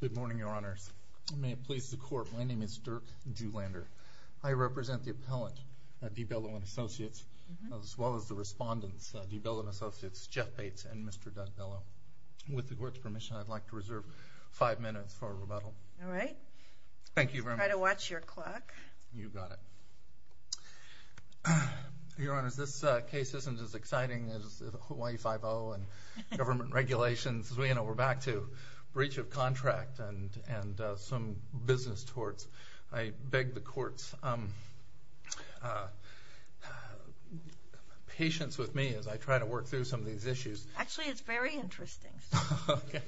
Good morning, Your Honors. May it please the Court, my name is Dirk Juhlander. I represent the appellant, D. Bello and Associates, as well as the respondents, D. Bello and Associates, Jeff Bates and Mr. Dunn Bello. With the Court's permission, I'd like to reserve five minutes for rebuttal. All right. Try to watch your clock. You've got it. Your Honors, this case isn't as exciting as Hawaii Five-0 and government regulations. We're back to breach of contract and some business torts. I beg the Court's patience with me as I try to work through some of these issues. Actually, it's very interesting. Okay.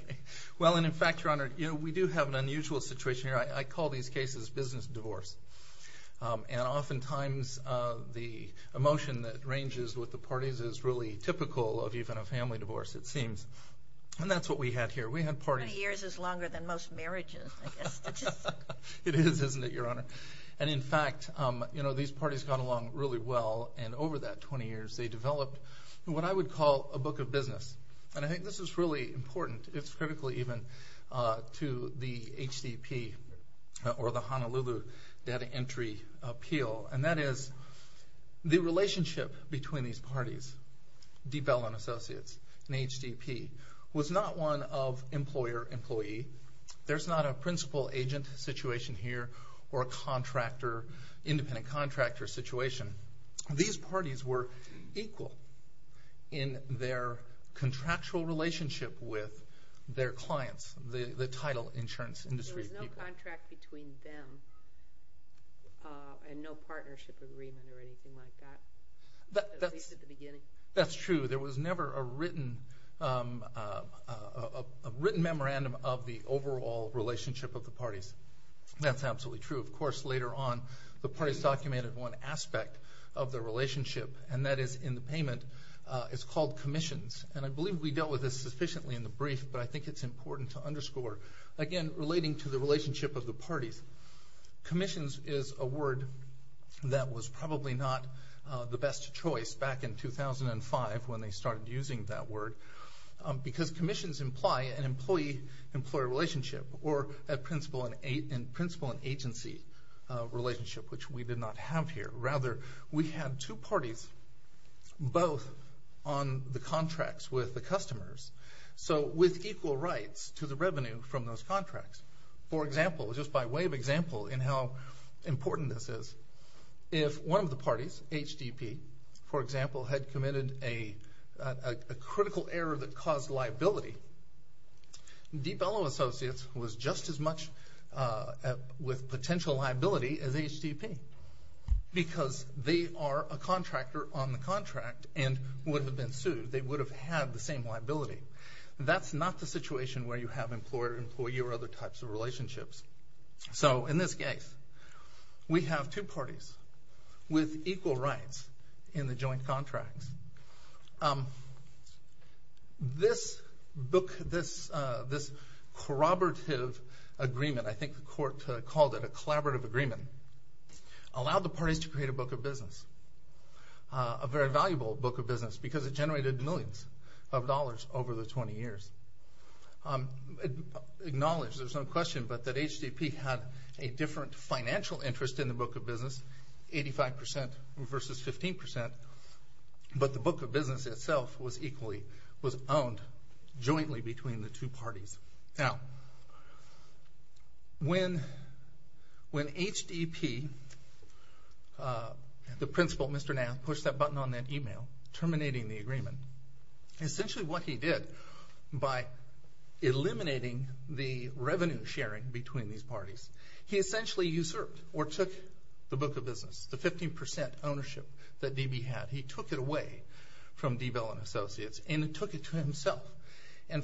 Well, in fact, Your Honor, we do have an unusual situation here. I call these cases business divorce. And oftentimes, the emotion that ranges with the parties is really typical of even a family divorce, it seems. And that's what we had here. Twenty years is longer than most marriages, I guess. It is, isn't it, Your Honor? And in fact, these parties got along really well, and over that 20 years, they developed what I would call a book of business. And I think this is really important. It's critical even to the HDP, or the Honolulu Data Entry Appeal. And that is, the relationship between these parties, Diebell & Associates and HDP, was not one of employer-employee. There's not a principal-agent situation here, or a contractor, independent-contractor situation. These parties were equal in their contractual relationship with their clients, the title insurance industry people. There was no contract between them and no partnership agreement or anything like that, at least at the beginning. That's true. There was never a written memorandum of the overall relationship of the parties. That's absolutely true. Of course, later on, the parties documented one aspect of the relationship, and that is in the payment. It's called commissions. And I believe we dealt with this sufficiently in the brief, but I think it's important to underscore. Again, relating to the relationship of the parties. Commissions is a word that was probably not the best choice back in 2005, when they started using that word. Because commissions imply an employee-employer relationship, or a principal-agency relationship, which we did not have here. Rather, we had two parties, both on the contracts with the customers, so with equal rights to the revenue from those contracts. For example, just by way of example in how important this is, if one of the parties, HDP, for example, had committed a critical error that caused liability, Deepellow Associates was just as much with potential liability as HDP, because they are a contractor on the contract and would have been sued. They would have had the same liability. That's not the situation where you have employer-employee or other types of relationships. So, in this case, we have two parties with equal rights in the joint contracts. This book, this corroborative agreement, I think the court called it a collaborative agreement, allowed the parties to create a book of business, a very valuable book of business, because it generated millions of dollars over the 20 years. Acknowledge, there's no question, that HDP had a different financial interest in the book of business, 85% versus 15%, but the book of business itself was owned jointly between the two parties. Now, when HDP, the principal, Mr. Nath, pushed that button on that email, terminating the agreement, essentially what he did by eliminating the revenue sharing between these parties, he essentially usurped or took the book of business, the 15% ownership that DB had. He took it away from Deepellow Associates and took it to himself. That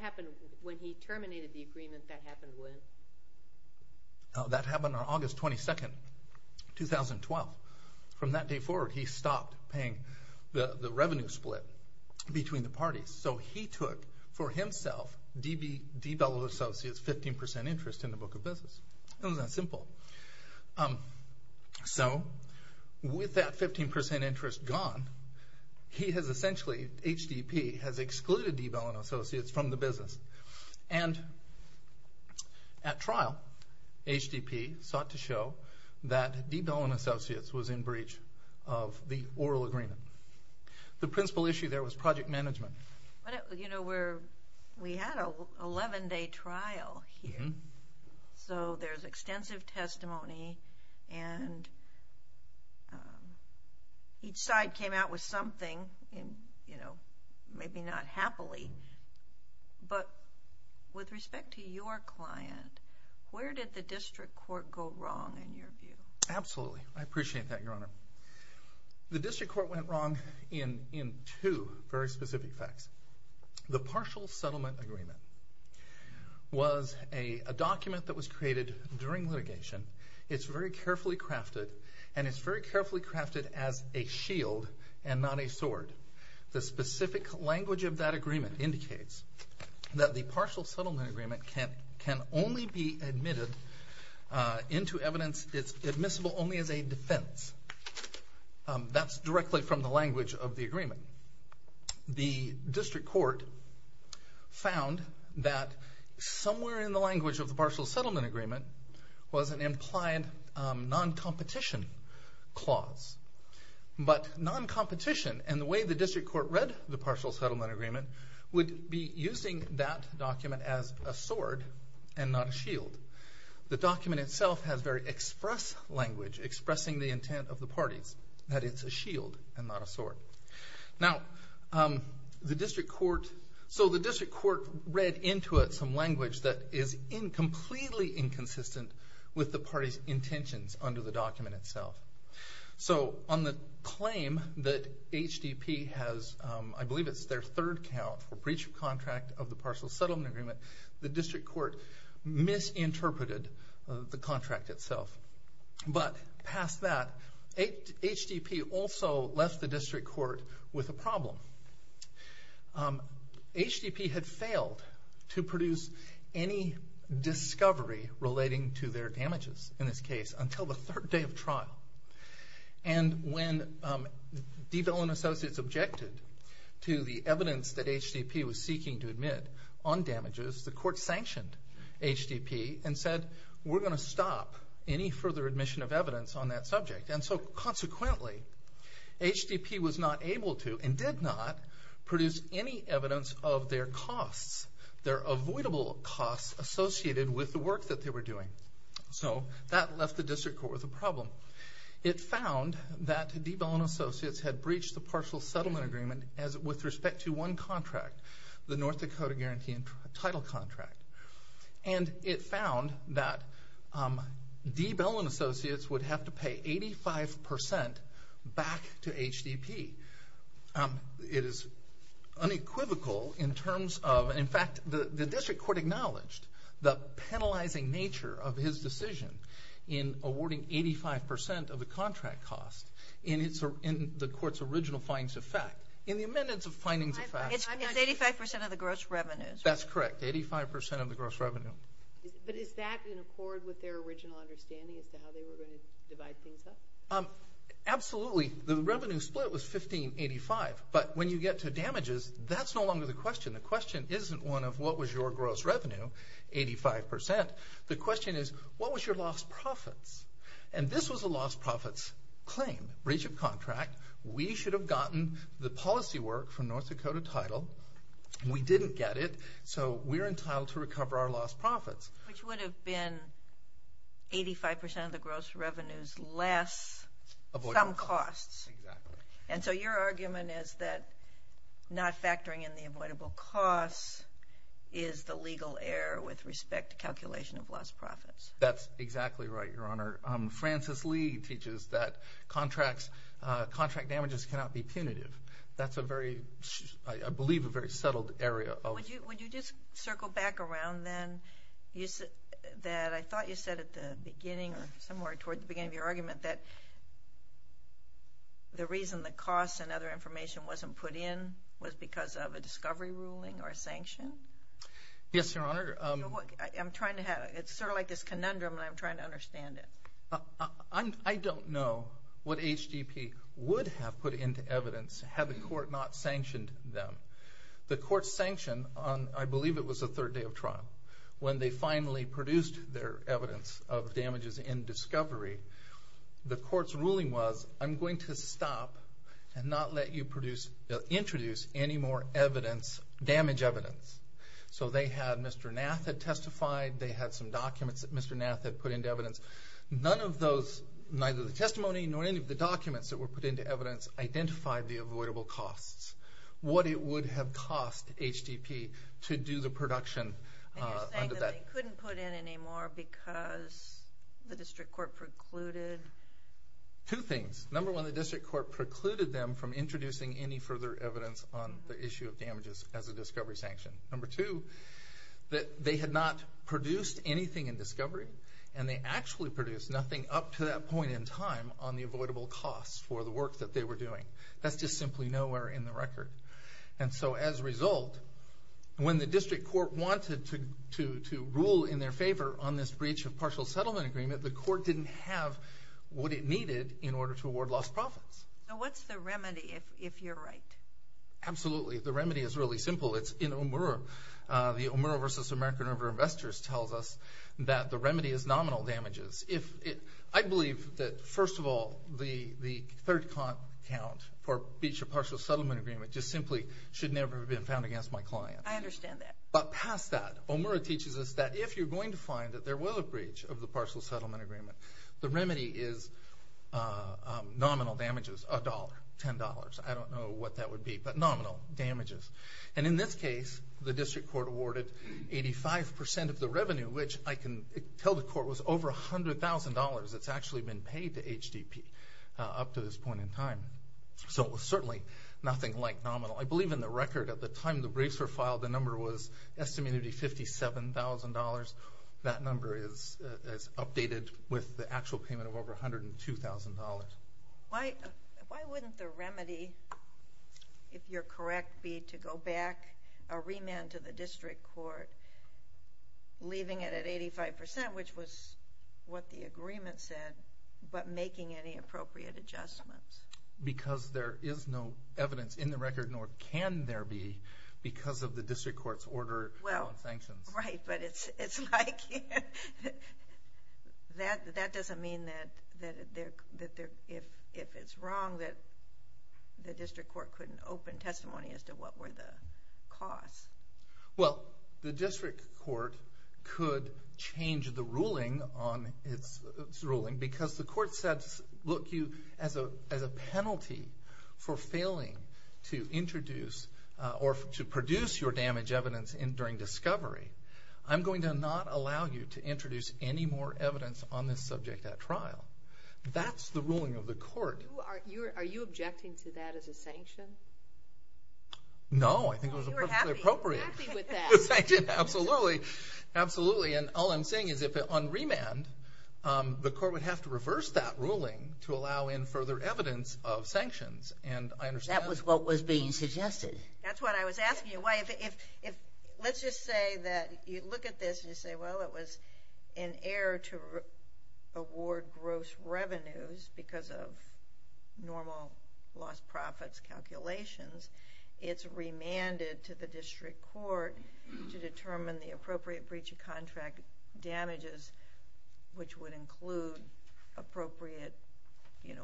happened when he terminated the agreement, that happened when? That happened on August 22, 2012. From that day forward, he stopped paying the revenue split between the parties. So he took, for himself, DB, Deepellow Associates' 15% interest in the book of business. It was that simple. So, with that 15% interest gone, he has essentially, HDP, has excluded Deepellow Associates from the business. And at trial, HDP sought to show that Deepellow Associates was in breach of the oral agreement. The principal issue there was project management. You know, we had an 11-day trial here, so there's extensive testimony, and each side came out with something, you know, maybe not happily. But with respect to your client, where did the district court go wrong, in your view? Absolutely. I appreciate that, Your Honor. The district court went wrong in two very specific facts. The partial settlement agreement was a document that was created during litigation. It's very carefully crafted, and it's very carefully crafted as a shield and not a sword. The specific language of that agreement indicates that the partial settlement agreement can only be admitted into evidence, it's admissible only as a defense. That's directly from the language of the agreement. The district court found that somewhere in the language of the partial settlement agreement was an implied non-competition clause. But non-competition and the way the district court read the partial settlement agreement would be using that document as a sword and not a shield. The document itself has very express language expressing the intent of the parties, that it's a shield and not a sword. Now, the district court read into it some language that is completely inconsistent with the party's intentions under the document itself. On the claim that HDP has, I believe it's their third count for breach of contract of the partial settlement agreement, the district court misinterpreted the contract itself. But past that, HDP also left the district court with a problem. HDP had failed to produce any discovery relating to their damages in this case until the third day of trial. And when Devell and Associates objected to the evidence that HDP was seeking to admit on damages, the court sanctioned HDP and said, we're going to stop any further admission of evidence on that subject. And so consequently, HDP was not able to and did not produce any evidence of their costs, their avoidable costs associated with the work that they were doing. So that left the district court with a problem. It found that Devell and Associates had breached the partial settlement agreement with respect to one contract, the North Dakota guarantee and title contract. And it found that Devell and Associates would have to pay 85% back to HDP. It is unequivocal in terms of, in fact, the district court acknowledged the penalizing nature of his decision in awarding 85% of the contract cost in the court's original findings of fact. In the amendments of findings of fact. It's 85% of the gross revenue. That's correct, 85% of the gross revenue. But is that in accord with their original understanding of how they were going to divide things up? Absolutely. The revenue split was $15.85. But when you get to damages, that's no longer the question. The question isn't one of what was your gross revenue, 85%. The question is, what was your lost profits? And this was a lost profits claim, breach of contract. We should have gotten the policy work for North Dakota title. We didn't get it, so we're entitled to recover our lost profits. Which would have been 85% of the gross revenues less some costs. Exactly. And so your argument is that not factoring in the avoidable costs is the legal error with respect to calculation of lost profits. That's exactly right, Your Honor. Francis Lee teaches that contract damages cannot be punitive. That's a very, I believe, a very settled area. Would you just circle back around then that I thought you said at the beginning or somewhere toward the beginning of your argument that the reason the costs and other information wasn't put in was because of a discovery ruling or a sanction? Yes, Your Honor. It's sort of like this conundrum, and I'm trying to understand it. I don't know what HDP would have put into evidence had the court not sanctioned them. The court sanctioned on, I believe it was the third day of trial, when they finally produced their evidence of damages in discovery, the court's ruling was, I'm going to stop and not let you introduce any more damage evidence. So they had Mr. Nath that testified. They had some documents that Mr. Nath had put into evidence. None of those, neither the testimony nor any of the documents that were put into evidence, identified the avoidable costs. What it would have cost HDP to do the production under that. And you're saying that they couldn't put in any more because the district court precluded? Two things. Number one, the district court precluded them from introducing any further evidence on the issue of damages as a discovery sanction. Number two, that they had not produced anything in discovery, and they actually produced nothing up to that point in time on the avoidable costs for the work that they were doing. That's just simply nowhere in the record. And so as a result, when the district court wanted to rule in their favor on this breach of partial settlement agreement, the court didn't have what it needed in order to award lost profits. What's the remedy, if you're right? Absolutely. The remedy is really simple. It's in OMURA. The OMURA versus American River Investors tells us that the remedy is nominal damages. I believe that, first of all, the third count for breach of partial settlement agreement just simply should never have been found against my client. I understand that. But past that, OMURA teaches us that if you're going to find that there was a breach of the partial settlement agreement, the remedy is nominal damages, $1, $10. I don't know what that would be, but nominal damages. And in this case, the district court awarded 85% of the revenue, which I can tell the court was over $100,000 that's actually been paid to HDP up to this point in time. So it was certainly nothing like nominal. I believe in the record at the time the briefs were filed, the number was estimated to be $57,000. That number is updated with the actual payment of over $102,000. Why wouldn't the remedy, if you're correct, be to go back, a remand to the district court, leaving it at 85%, which was what the agreement said, but making any appropriate adjustments? Because there is no evidence in the record, nor can there be, because of the district court's order on sanctions. Right, but it's like that doesn't mean that if it's wrong, that the district court couldn't open testimony as to what were the costs. Well, the district court could change the ruling on its ruling, because the court said, look, you, as a penalty for failing to introduce or to produce your damage evidence during discovery, I'm going to not allow you to introduce any more evidence on this subject at trial. That's the ruling of the court. Are you objecting to that as a sanction? No, I think it was perfectly appropriate. I'm happy with that. Absolutely, absolutely, and all I'm saying is that on remand, the court would have to reverse that ruling to allow in further evidence of sanctions. That was what was being suggested. That's what I was asking. Let's just say that you look at this and you say, well, it was an error to award gross revenues because of normal lost profits calculations. It's remanded to the district court to determine the appropriate breach of contract damages, which would include appropriate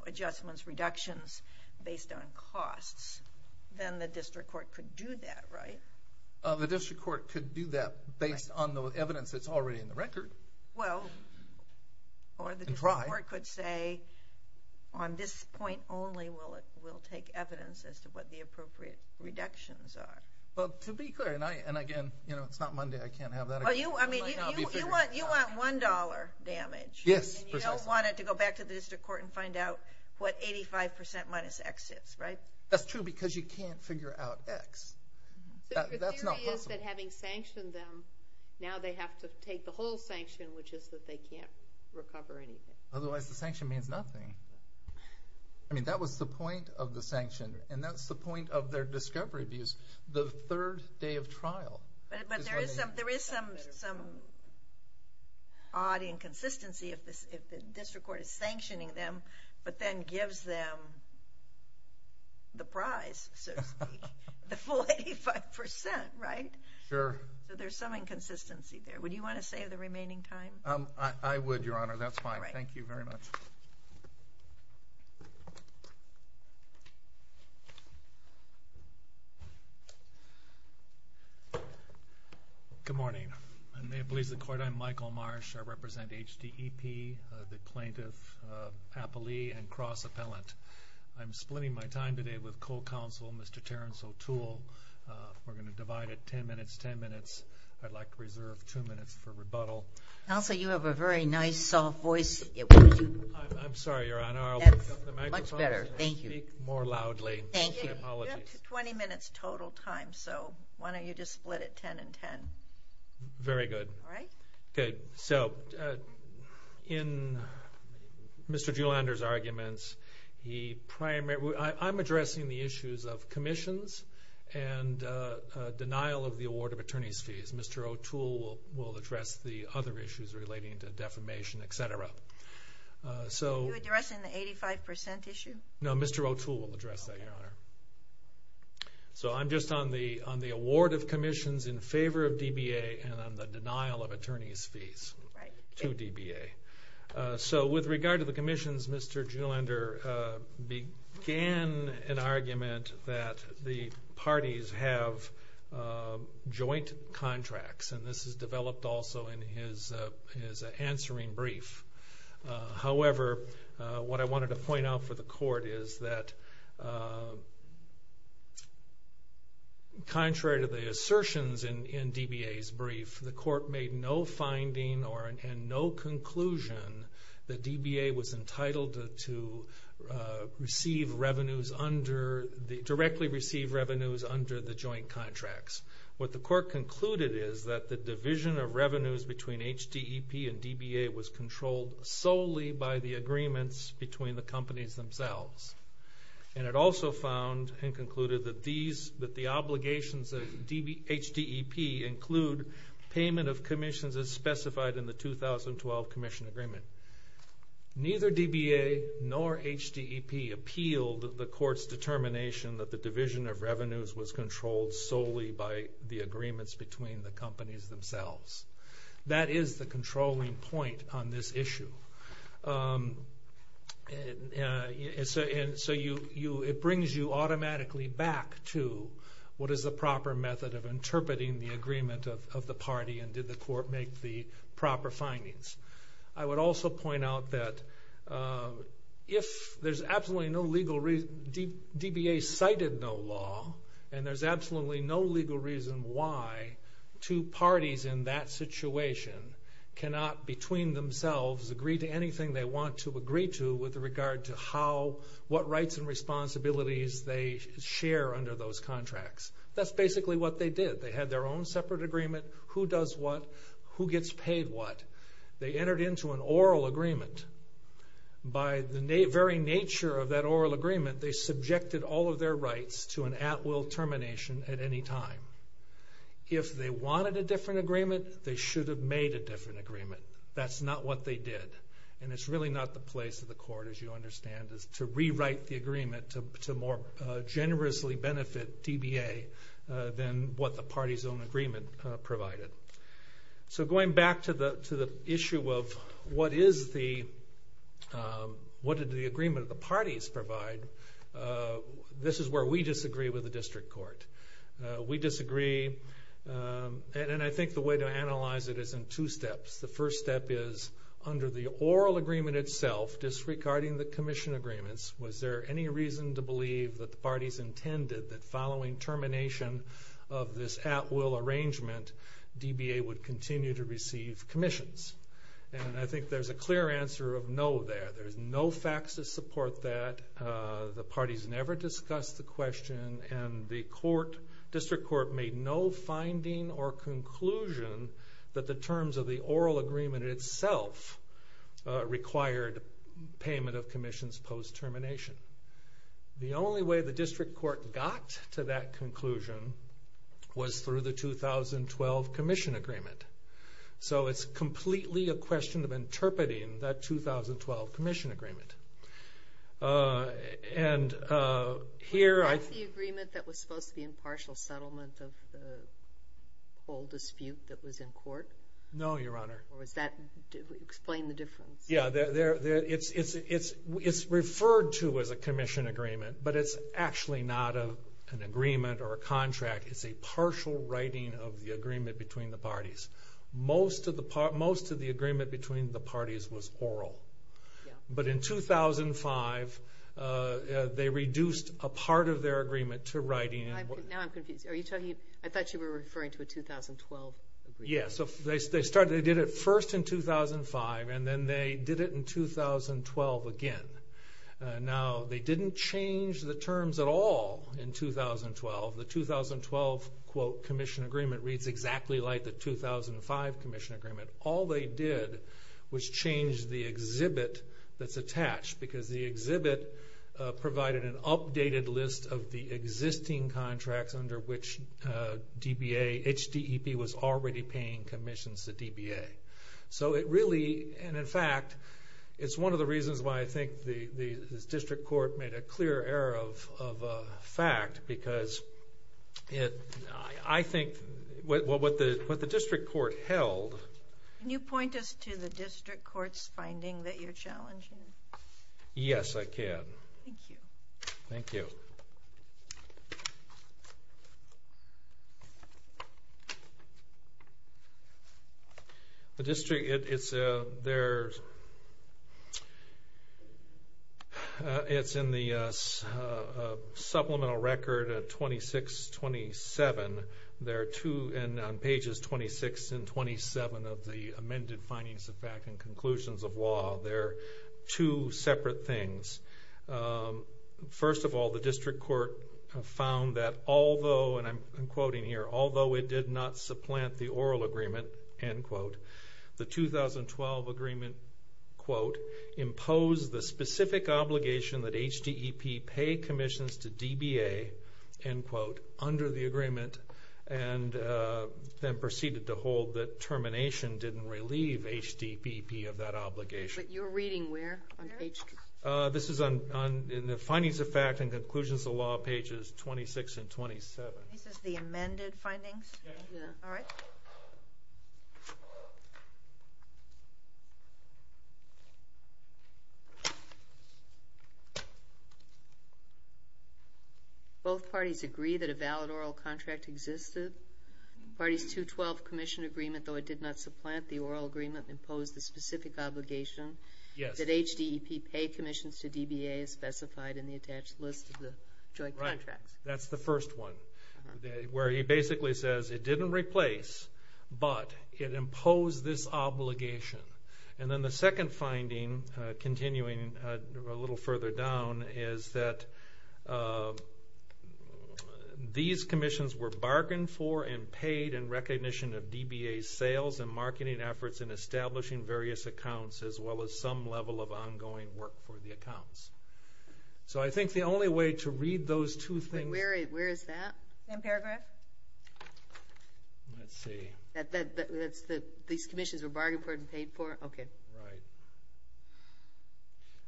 adjustments, reductions based on costs. Then the district court could do that, right? The district court could do that based on the evidence that's already in the record. Well, or the district court could say, on this point only, we'll take evidence as to what the appropriate reductions are. Well, to be clear, and again, it's not Monday. I can't have that. You want $1 damage. Yes, precisely. You don't want it to go back to the district court and find out what 85% minus X is, right? That's true because you can't figure out X. Your theory is that having sanctioned them, now they have to take the whole sanction, which is that they can't recover anything. Otherwise, the sanction means nothing. I mean, that was the point of the sanction, and that's the point of their discovery abuse, the third day of trial. But there is some odd inconsistency if the district court is sanctioning them but then gives them the prize, so to speak, the full 85%, right? Sure. So there's some inconsistency there. Would you want to save the remaining time? I would, Your Honor. That's fine. Thank you very much. Good morning. May it please the Court. I'm Michael Marsh. I represent HDEP, the plaintiff, Papali, and Cross Appellant. I'm splitting my time today with co-counsel, Mr. Terence O'Toole. We're going to divide it 10 minutes, 10 minutes. I'd like to reserve two minutes for rebuttal. Also, you have a very nice, soft voice. I'm sorry, Your Honor. I'll pick up the microphone and speak more loudly. Thank you. My apologies. You have 20 minutes total time, so why don't you just split it 10 and 10. Very good. All right? Okay. So in Mr. Juhlander's arguments, I'm addressing the issues of commissions and denial of the award of attorney's fees. Mr. O'Toole will address the other issues relating to defamation, et cetera. Are you addressing the 85% issue? No, Mr. O'Toole will address that, Your Honor. So I'm just on the award of commissions in favor of DBA and on the denial of attorney's fees to DBA. So with regard to the commissions, Mr. Juhlander began an argument that the parties have joint contracts, and this is developed also in his answering brief. However, what I wanted to point out for the court is that, contrary to the assertions in DBA's brief, the court made no finding and no conclusion that DBA was entitled to directly receive revenues under the joint contracts. What the court concluded is that the division of revenues between HDEP and DBA was controlled solely by the agreements between the companies themselves. And it also found and concluded that the obligations of HDEP include payment of commissions as specified in the 2012 commission agreement. Neither DBA nor HDEP appealed the court's determination that the division of revenues was controlled solely by the agreements between the companies themselves. That is the controlling point on this issue. And so it brings you automatically back to what is the proper method of interpreting the agreement of the party, and did the court make the proper findings. I would also point out that if there's absolutely no legal reason, DBA cited no law, and there's absolutely no legal reason why two parties in that situation cannot, between themselves, agree to anything they want to agree to with regard to what rights and responsibilities they share under those contracts. That's basically what they did. They had their own separate agreement, who does what, who gets paid what. They entered into an oral agreement. By the very nature of that oral agreement, they subjected all of their rights to an at-will termination at any time. If they wanted a different agreement, they should have made a different agreement. That's not what they did. And it's really not the place of the court, as you understand, to rewrite the agreement to more generously benefit DBA than what the party's own agreement provided. So going back to the issue of what did the agreement of the parties provide, this is where we disagree with the district court. We disagree, and I think the way to analyze it is in two steps. The first step is under the oral agreement itself, disregarding the commission agreements, was there any reason to believe that the parties intended that following termination of this at-will arrangement, DBA would continue to receive commissions? And I think there's a clear answer of no there. There's no facts to support that. The parties never discussed the question, and the district court made no finding or conclusion that the terms of the oral agreement itself required payment of commissions post-termination. The only way the district court got to that conclusion was through the 2012 commission agreement. So it's completely a question of interpreting that 2012 commission agreement. Was that the agreement that was supposed to be impartial settlement of the whole dispute that was in court? No, Your Honor. Explain the difference. It's referred to as a commission agreement, but it's actually not an agreement or a contract. It's a partial writing of the agreement between the parties. Most of the agreement between the parties was oral. But in 2005, they reduced a part of their agreement to writing. Now I'm confused. I thought you were referring to a 2012 agreement. Yes. They did it first in 2005, and then they did it in 2012 again. Now they didn't change the terms at all in 2012. The 2012 commission agreement reads exactly like the 2005 commission agreement. All they did was change the exhibit that's attached, because the exhibit provided an updated list of the existing contracts under which HDEP was already paying commissions to DBA. So it really, and in fact, it's one of the reasons why I think the district court made a clear error of fact, because I think what the district court held. Can you point us to the district court's finding that you're challenging? Yes, I can. Thank you. Thank you. The district, it's there. It's in the supplemental record at 2627. There are two, and on pages 26 and 27 of the amended findings of fact and conclusions of law, there are two separate things. First of all, the district court found that although, and I'm quoting here, although it did not supplant the oral agreement, end quote, the 2012 agreement, quote, imposed the specific obligation that HDEP pay commissions to DBA, end quote, under the agreement, and then proceeded to hold that termination didn't relieve HDEP of that obligation. But you're reading where? This is in the findings of fact and conclusions of law, pages 26 and 27. This is the amended findings? Yes. All right. Thank you. Both parties agree that a valid oral contract existed. Parties 212 commission agreement, though it did not supplant the oral agreement, imposed the specific obligation that HDEP pay commissions to DBA as specified in the attached list of the joint contracts. Right. That's the first one where he basically says it didn't replace, but it imposed this obligation. And then the second finding, continuing a little further down, is that these commissions were bargained for and paid in recognition of DBA's sales and marketing efforts in establishing various accounts, as well as some level of ongoing work for the accounts. So I think the only way to read those two things. Where is that? In paragraph? Let's see. These commissions were bargained for and paid for? Okay. Right.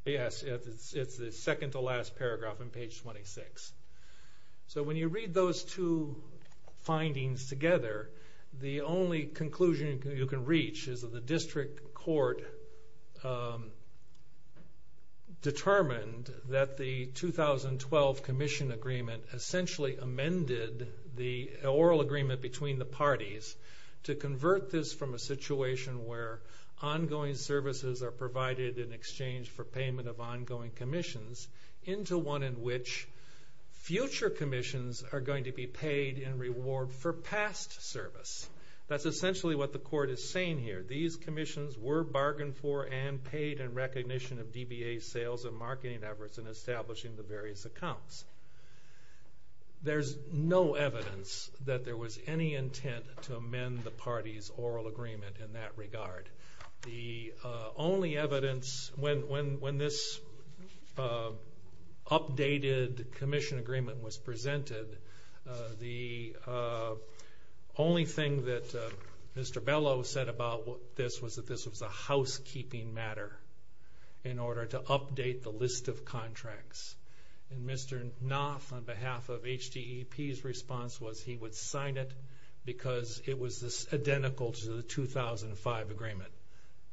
Yes, it's the second to last paragraph on page 26. So when you read those two findings together, the only conclusion you can reach is that the district court determined that the 2012 commission agreement essentially amended the oral agreement between the parties to convert this from a situation where ongoing services are provided in exchange for payment of ongoing commissions into one in which future commissions are going to be paid in reward for past service. That's essentially what the court is saying here. These commissions were bargained for and paid in recognition of DBA's sales and marketing efforts in establishing the various accounts. There's no evidence that there was any intent to amend the parties' oral agreement in that regard. The only evidence when this updated commission agreement was presented, the only thing that Mr. Bellow said about this was that this was a housekeeping matter in order to update the list of contracts. And Mr. Knopf, on behalf of HDEP's response, was he would sign it because it was identical to the 2005 agreement.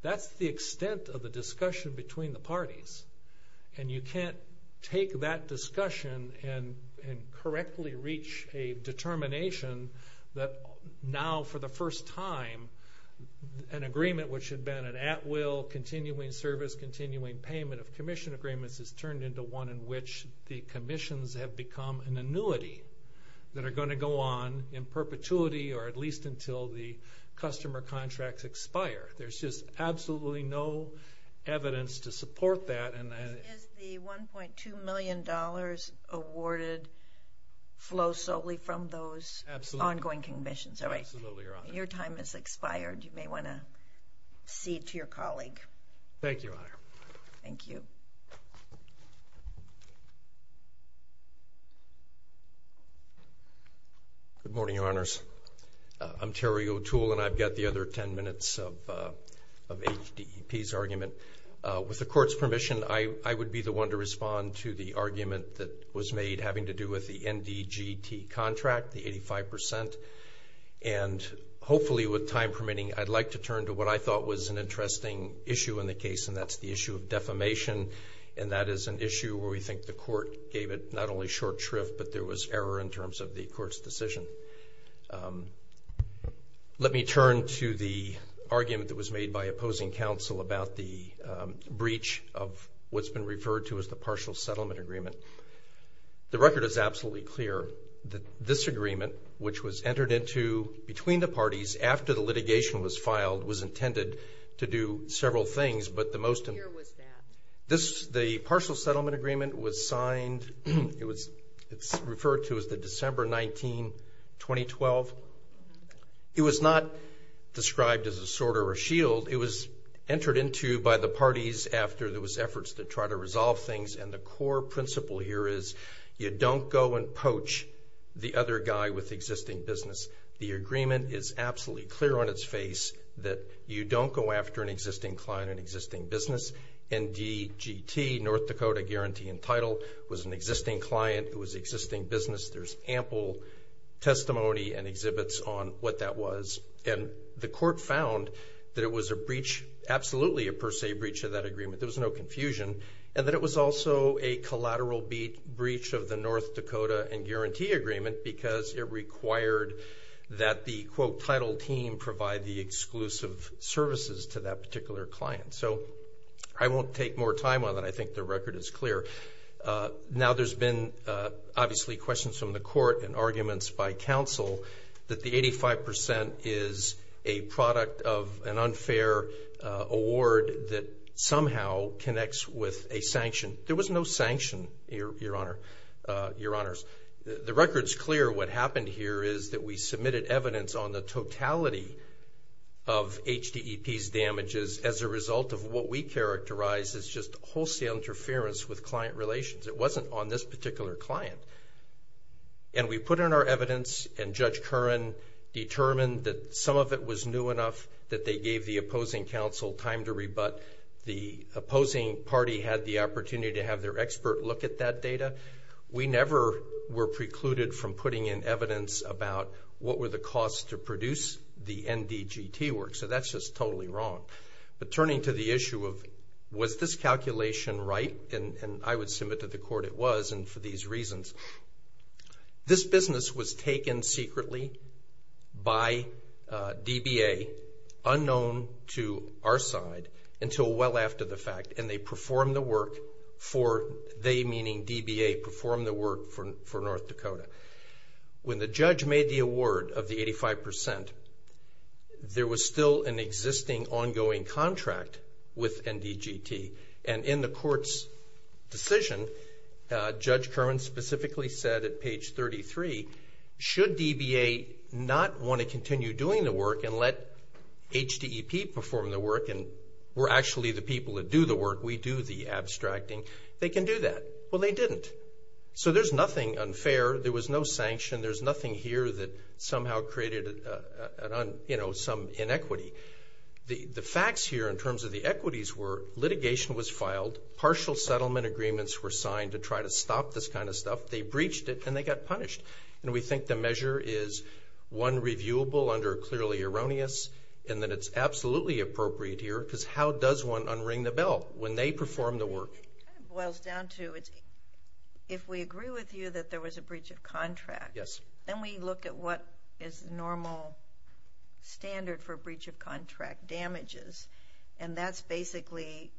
That's the extent of the discussion between the parties, and you can't take that discussion and correctly reach a determination that now for the first time an agreement which had been an at-will, continuing service, continuing payment of commission agreements is turned into one in which the commissions have become an annuity that are going to go on in perpetuity or at least until the customer contracts expire. There's just absolutely no evidence to support that. Is the $1.2 million awarded flow solely from those ongoing commissions? Absolutely, Your Honor. Your time has expired. You may want to cede to your colleague. Thank you, Your Honor. Thank you. Good morning, Your Honors. I'm Terry O'Toole, and I've got the other 10 minutes of HDEP's argument. With the Court's permission, I would be the one to respond to the argument that was made having to do with the NDGT contract, the 85%, and hopefully with time permitting, I'd like to turn to what I thought was an interesting issue in the case, and that's the issue of defamation, and that is an issue where we think the Court gave it not only short shrift, but there was error in terms of the Court's decision. Let me turn to the argument that was made by opposing counsel about the breach of what's been referred to as the partial settlement agreement. The record is absolutely clear that this agreement, which was entered into between the parties after the litigation was filed, was intended to do several things. Where was that? The partial settlement agreement was signed. It's referred to as the December 19, 2012. It was not described as a sword or a shield. And the core principle here is you don't go and poach the other guy with existing business. The agreement is absolutely clear on its face that you don't go after an existing client or an existing business. NDGT, North Dakota Guarantee and Title, was an existing client. It was an existing business. There's ample testimony and exhibits on what that was. And the Court found that it was a breach, absolutely a per se breach of that agreement. There was no confusion. And that it was also a collateral breach of the North Dakota and Guarantee Agreement because it required that the, quote, title team provide the exclusive services to that particular client. So I won't take more time on that. I think the record is clear. Now there's been, obviously, questions from the Court and arguments by counsel that the 85% is a product of an unfair award that somehow connects with a sanction. There was no sanction, Your Honor, Your Honors. The record's clear. What happened here is that we submitted evidence on the totality of HDEP's damages as a result of what we characterize as just wholesale interference with client relations. It wasn't on this particular client. And we put in our evidence and Judge Curran determined that some of it was new enough that they gave the opposing counsel time to rebut. The opposing party had the opportunity to have their expert look at that data. We never were precluded from putting in evidence about what were the costs to produce the NDGT work. So that's just totally wrong. But turning to the issue of was this calculation right, and I would submit to the Court it was and for these reasons. This business was taken secretly by DBA, unknown to our side, until well after the fact, and they performed the work for, they meaning DBA, performed the work for North Dakota. When the judge made the award of the 85%, there was still an existing ongoing contract with NDGT. And in the Court's decision, Judge Curran specifically said at page 33, should DBA not want to continue doing the work and let HDEP perform the work and we're actually the people that do the work, we do the abstracting, they can do that. Well, they didn't. So there's nothing unfair, there was no sanction, there's nothing here that somehow created some inequity. The facts here in terms of the equities were litigation was filed, partial settlement agreements were signed to try to stop this kind of stuff, they breached it and they got punished. And we think the measure is one reviewable under clearly erroneous and that it's absolutely appropriate here because how does one unring the bell when they perform the work? It boils down to if we agree with you that there was a breach of contract, then we look at what is normal standard for breach of contract damages and that's basically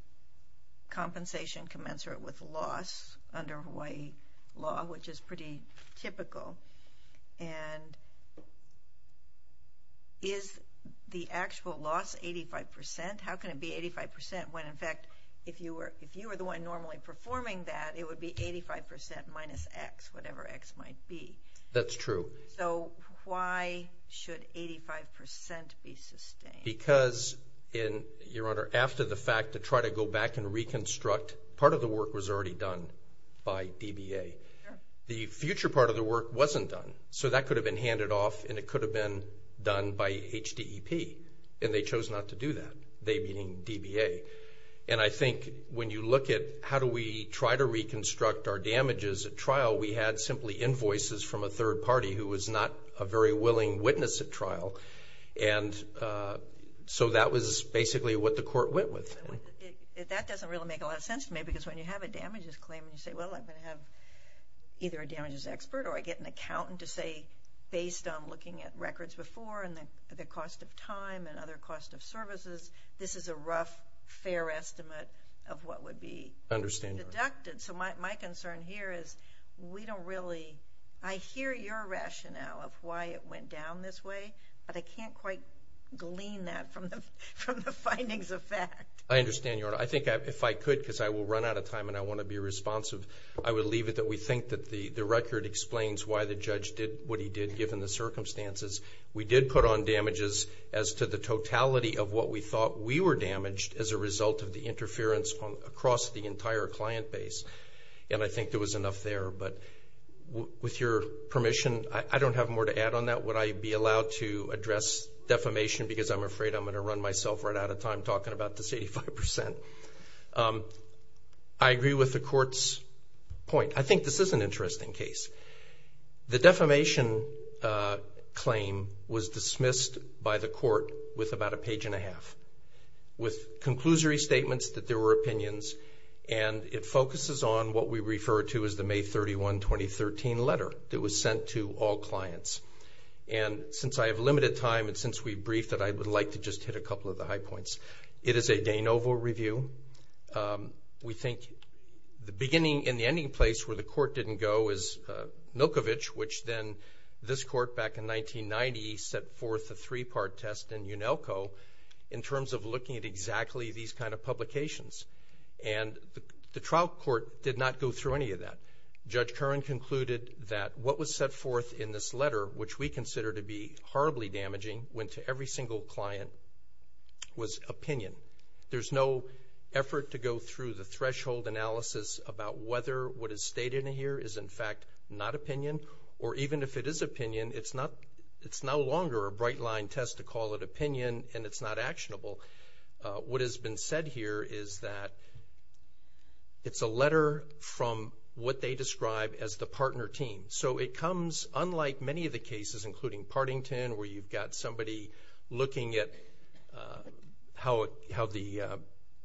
compensation commensurate with loss under Hawaii law, which is pretty typical. And is the actual loss 85%? How can it be 85% when, in fact, if you were the one normally performing that, it would be 85% minus X, whatever X might be. That's true. So why should 85% be sustained? Because, Your Honor, after the fact to try to go back and reconstruct, part of the work was already done by DBA. The future part of the work wasn't done, so that could have been handed off and it could have been done by HDEP, and they chose not to do that, they being DBA. And I think when you look at how do we try to reconstruct our damages at trial, we had simply invoices from a third party who was not a very willing witness at trial, and so that was basically what the court went with. That doesn't really make a lot of sense to me because when you have a damages claim and you say, well, I'm going to have either a damages expert or I get an accountant to say, based on looking at records before and the cost of time and other cost of services, this is a rough, fair estimate of what would be deducted. So my concern here is we don't really – I hear your rationale of why it went down this way, but I can't quite glean that from the findings of fact. I understand, Your Honor. I think if I could, because I will run out of time and I want to be responsive, I would leave it that we think that the record explains why the judge did what he did given the circumstances. We did put on damages as to the totality of what we thought we were damaged as a result of the interference across the entire client base, and I think there was enough there. But with your permission, I don't have more to add on that. Would I be allowed to address defamation? Because I'm afraid I'm going to run myself right out of time talking about this 85%. I agree with the court's point. I think this is an interesting case. The defamation claim was dismissed by the court with about a page and a half, with conclusory statements that there were opinions, and it focuses on what we refer to as the May 31, 2013 letter that was sent to all clients. And since I have limited time and since we briefed it, I would like to just hit a couple of the high points. It is a de novo review. We think the beginning and the ending place where the court didn't go is Milkovich, which then this court back in 1990 set forth a three-part test in Unelco in terms of looking at exactly these kind of publications. And the trial court did not go through any of that. Judge Curran concluded that what was set forth in this letter, which we consider to be horribly damaging, went to every single client, was opinion. There's no effort to go through the threshold analysis about whether what is stated here is, in fact, not opinion, or even if it is opinion, it's no longer a bright-line test to call it opinion and it's not actionable. What has been said here is that it's a letter from what they describe as the partner team. So it comes, unlike many of the cases, including Partington, where you've got somebody looking at how the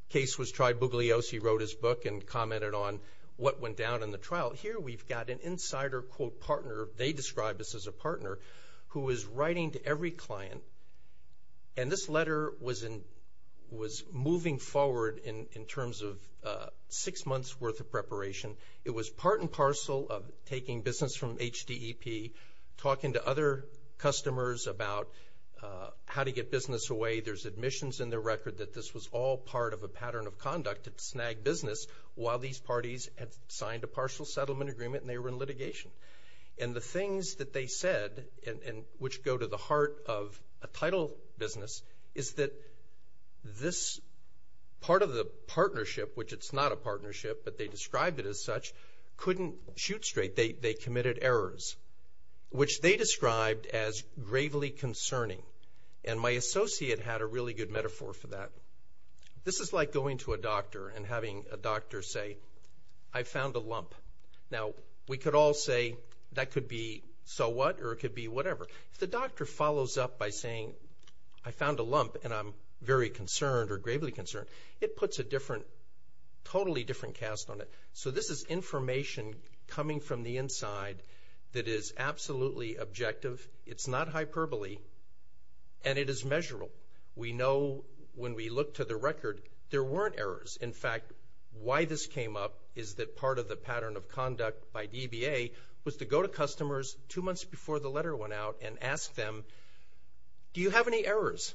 case was tried. Bugliosi wrote his book and commented on what went down in the trial. Here we've got an insider, quote, partner. They describe this as a partner who is writing to every client. And this letter was moving forward in terms of six months' worth of preparation. It was part and parcel of taking business from HDEP, talking to other customers about how to get business away. There's admissions in their record that this was all part of a pattern of conduct to snag business while these parties had signed a partial settlement agreement and they were in litigation. And the things that they said, which go to the heart of a title business, is that this part of the partnership, which it's not a partnership, but they described it as such, couldn't shoot straight. They committed errors, which they described as gravely concerning. And my associate had a really good metaphor for that. This is like going to a doctor and having a doctor say, I found a lump. Now, we could all say that could be so what or it could be whatever. If the doctor follows up by saying, I found a lump and I'm very concerned or gravely concerned, it puts a totally different cast on it. So this is information coming from the inside that is absolutely objective. It's not hyperbole, and it is measurable. We know when we look to the record, there weren't errors. In fact, why this came up is that part of the pattern of conduct by DBA was to go to customers two months before the letter went out and ask them, do you have any errors?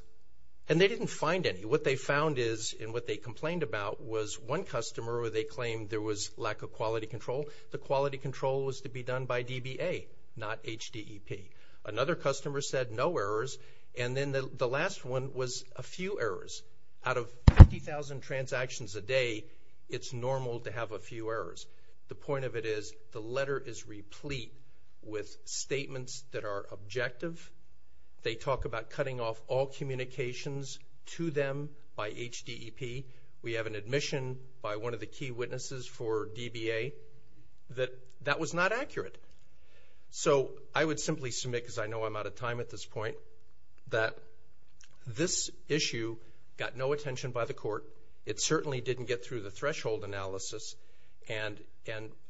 And they didn't find any. What they found is, and what they complained about, was one customer where they claimed there was lack of quality control. The quality control was to be done by DBA, not HDEP. Another customer said no errors, and then the last one was a few errors. Out of 50,000 transactions a day, it's normal to have a few errors. The point of it is the letter is replete with statements that are objective. They talk about cutting off all communications to them by HDEP. We have an admission by one of the key witnesses for DBA that that was not accurate. So I would simply submit, because I know I'm out of time at this point, that this issue got no attention by the court. It certainly didn't get through the threshold analysis, and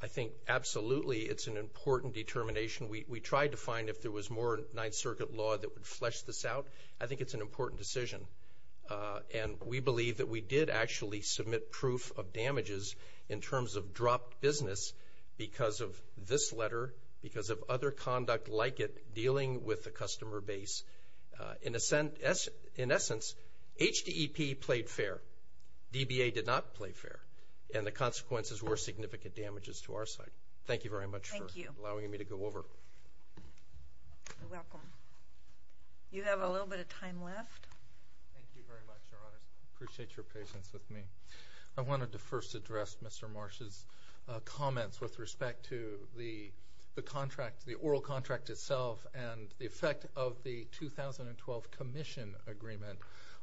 I think absolutely it's an important determination. We tried to find if there was more Ninth Circuit law that would flesh this out. I think it's an important decision. We believe that we did actually submit proof of damages in terms of dropped business because of this letter, because of other conduct like it dealing with the customer base. In essence, HDEP played fair. DBA did not play fair, and the consequences were significant damages to our side. Thank you very much for allowing me to go over. You're welcome. You have a little bit of time left. Thank you very much, Your Honor. I appreciate your patience with me. I wanted to first address Mr. Marsh's comments with respect to the oral contract itself and the effect of the 2012 commission agreement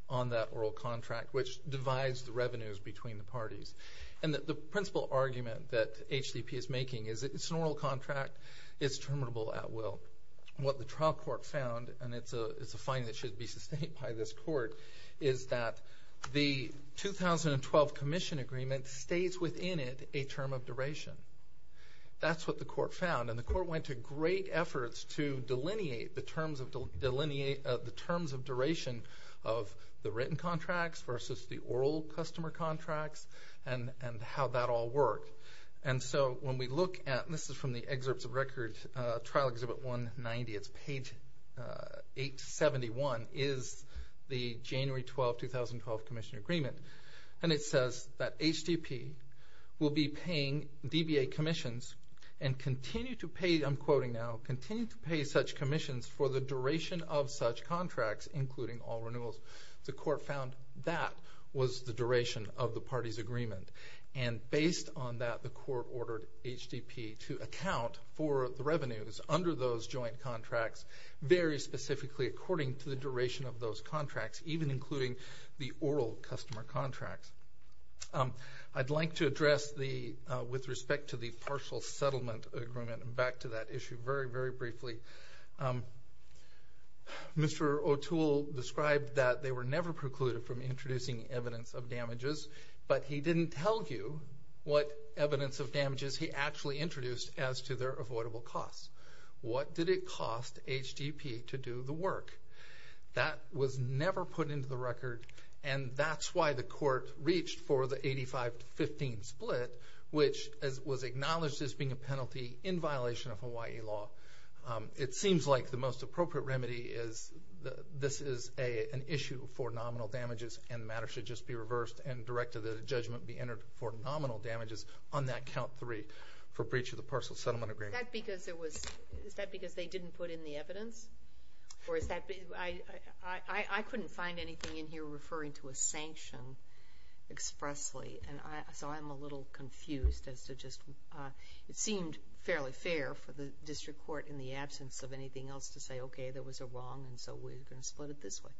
on that oral contract, which divides the revenues between the parties. The principal argument that HDEP is making is it's an oral contract. It's terminable at will. What the trial court found, and it's a finding that should be sustained by this court, is that the 2012 commission agreement stays within it a term of duration. That's what the court found. The court went to great efforts to delineate the terms of duration of the written contracts versus the oral customer contracts and how that all worked. When we look at, and this is from the excerpts of record, Trial Exhibit 190, it's page 871, is the January 12, 2012 commission agreement. It says that HDEP will be paying DBA commissions and continue to pay, I'm quoting now, continue to pay such commissions for the duration of such contracts, including all renewals. The court found that was the duration of the parties' agreement. And based on that, the court ordered HDEP to account for the revenues under those joint contracts very specifically according to the duration of those contracts, even including the oral customer contracts. I'd like to address the, with respect to the partial settlement agreement, and back to that issue very, very briefly. Mr. O'Toole described that they were never precluded from introducing evidence of damages, but he didn't tell you what evidence of damages he actually introduced as to their avoidable costs. What did it cost HDEP to do the work? That was never put into the record, and that's why the court reached for the 85-15 split, which was acknowledged as being a penalty in violation of Hawaii law. It seems like the most appropriate remedy is this is an issue for nominal damages and the matter should just be reversed and directed that a judgment be entered for nominal damages on that count 3 for breach of the partial settlement agreement. Is that because they didn't put in the evidence? I couldn't find anything in here referring to a sanction expressly, so I'm a little confused as to just it seemed fairly fair for the district court in the absence of anything else to say, okay, there was a wrong, and so we're going to split it this way.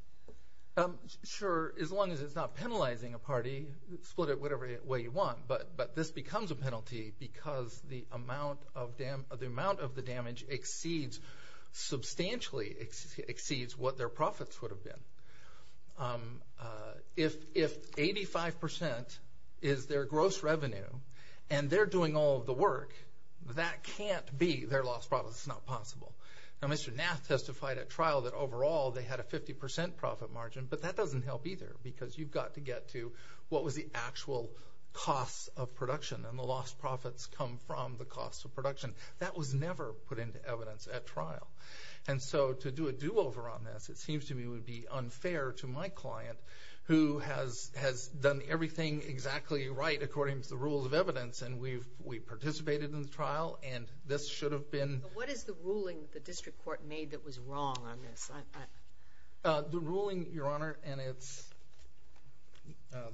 Sure, as long as it's not penalizing a party, split it whatever way you want, but this becomes a penalty because the amount of the damage substantially exceeds what their profits would have been. If 85 percent is their gross revenue and they're doing all of the work, that can't be their loss of profits. It's not possible. Now, Mr. Nath testified at trial that overall they had a 50 percent profit margin, but that doesn't help either because you've got to get to what was the actual cost of production and the lost profits come from the cost of production. That was never put into evidence at trial, and so to do a do-over on this, it seems to me would be unfair to my client who has done everything exactly right according to the rules of evidence, and we participated in the trial, and this should have been ---- What is the ruling the district court made that was wrong on this? The ruling, Your Honor, and it's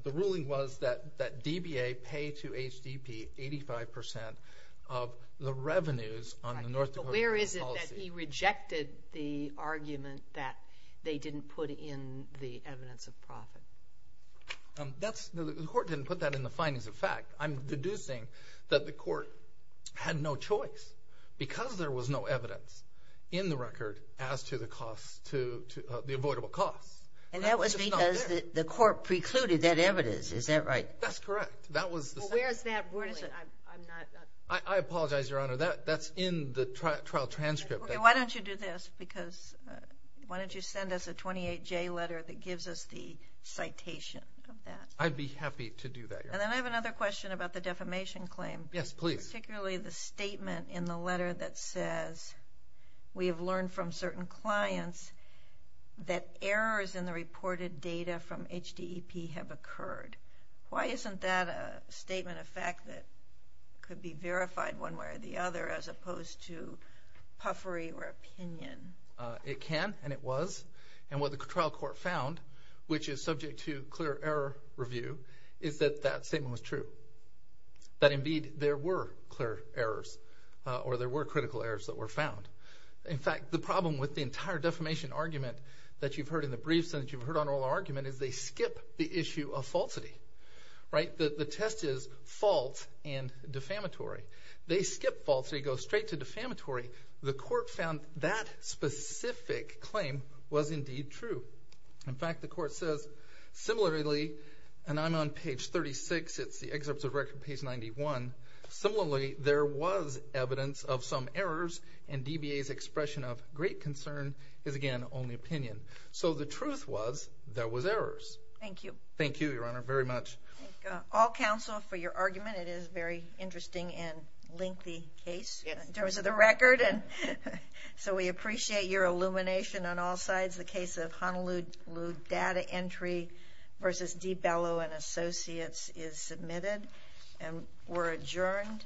the ruling was that DBA pay to HDP 85 percent of the revenues on the North Dakota policy. Right, but where is it that he rejected the argument that they didn't put in the evidence of profit? The court didn't put that in the findings of fact. I'm deducing that the court had no choice because there was no evidence in the record as to the avoidable costs. And that was because the court precluded that evidence. Is that right? That's correct. Well, where is that ruling? I apologize, Your Honor. That's in the trial transcript. Okay. Why don't you do this because why don't you send us a 28-J letter that gives us the citation of that? I'd be happy to do that, Your Honor. And then I have another question about the defamation claim. Yes, please. Particularly the statement in the letter that says we have learned from certain clients that errors in the reported data from HDEP have occurred. Why isn't that a statement of fact that could be verified one way or the other as opposed to puffery or opinion? It can and it was. And what the trial court found, which is subject to clear error review, is that that statement was true. That indeed there were clear errors or there were critical errors that were found. In fact, the problem with the entire defamation argument that you've heard in the briefs and that you've heard on oral argument is they skip the issue of falsity. Right? The test is false and defamatory. They skip false. They go straight to defamatory. The court found that specific claim was indeed true. In fact, the court says similarly, and I'm on page 36, it's the excerpt of record page 91, similarly there was evidence of some errors and DBA's expression of great concern is again only opinion. So the truth was there was errors. Thank you. Thank you, Your Honor, very much. All counsel for your argument. It is a very interesting and lengthy case in terms of the record. And so we appreciate your illumination on all sides. The case of Honolulu data entry versus DiBello and Associates is submitted and we're adjourned.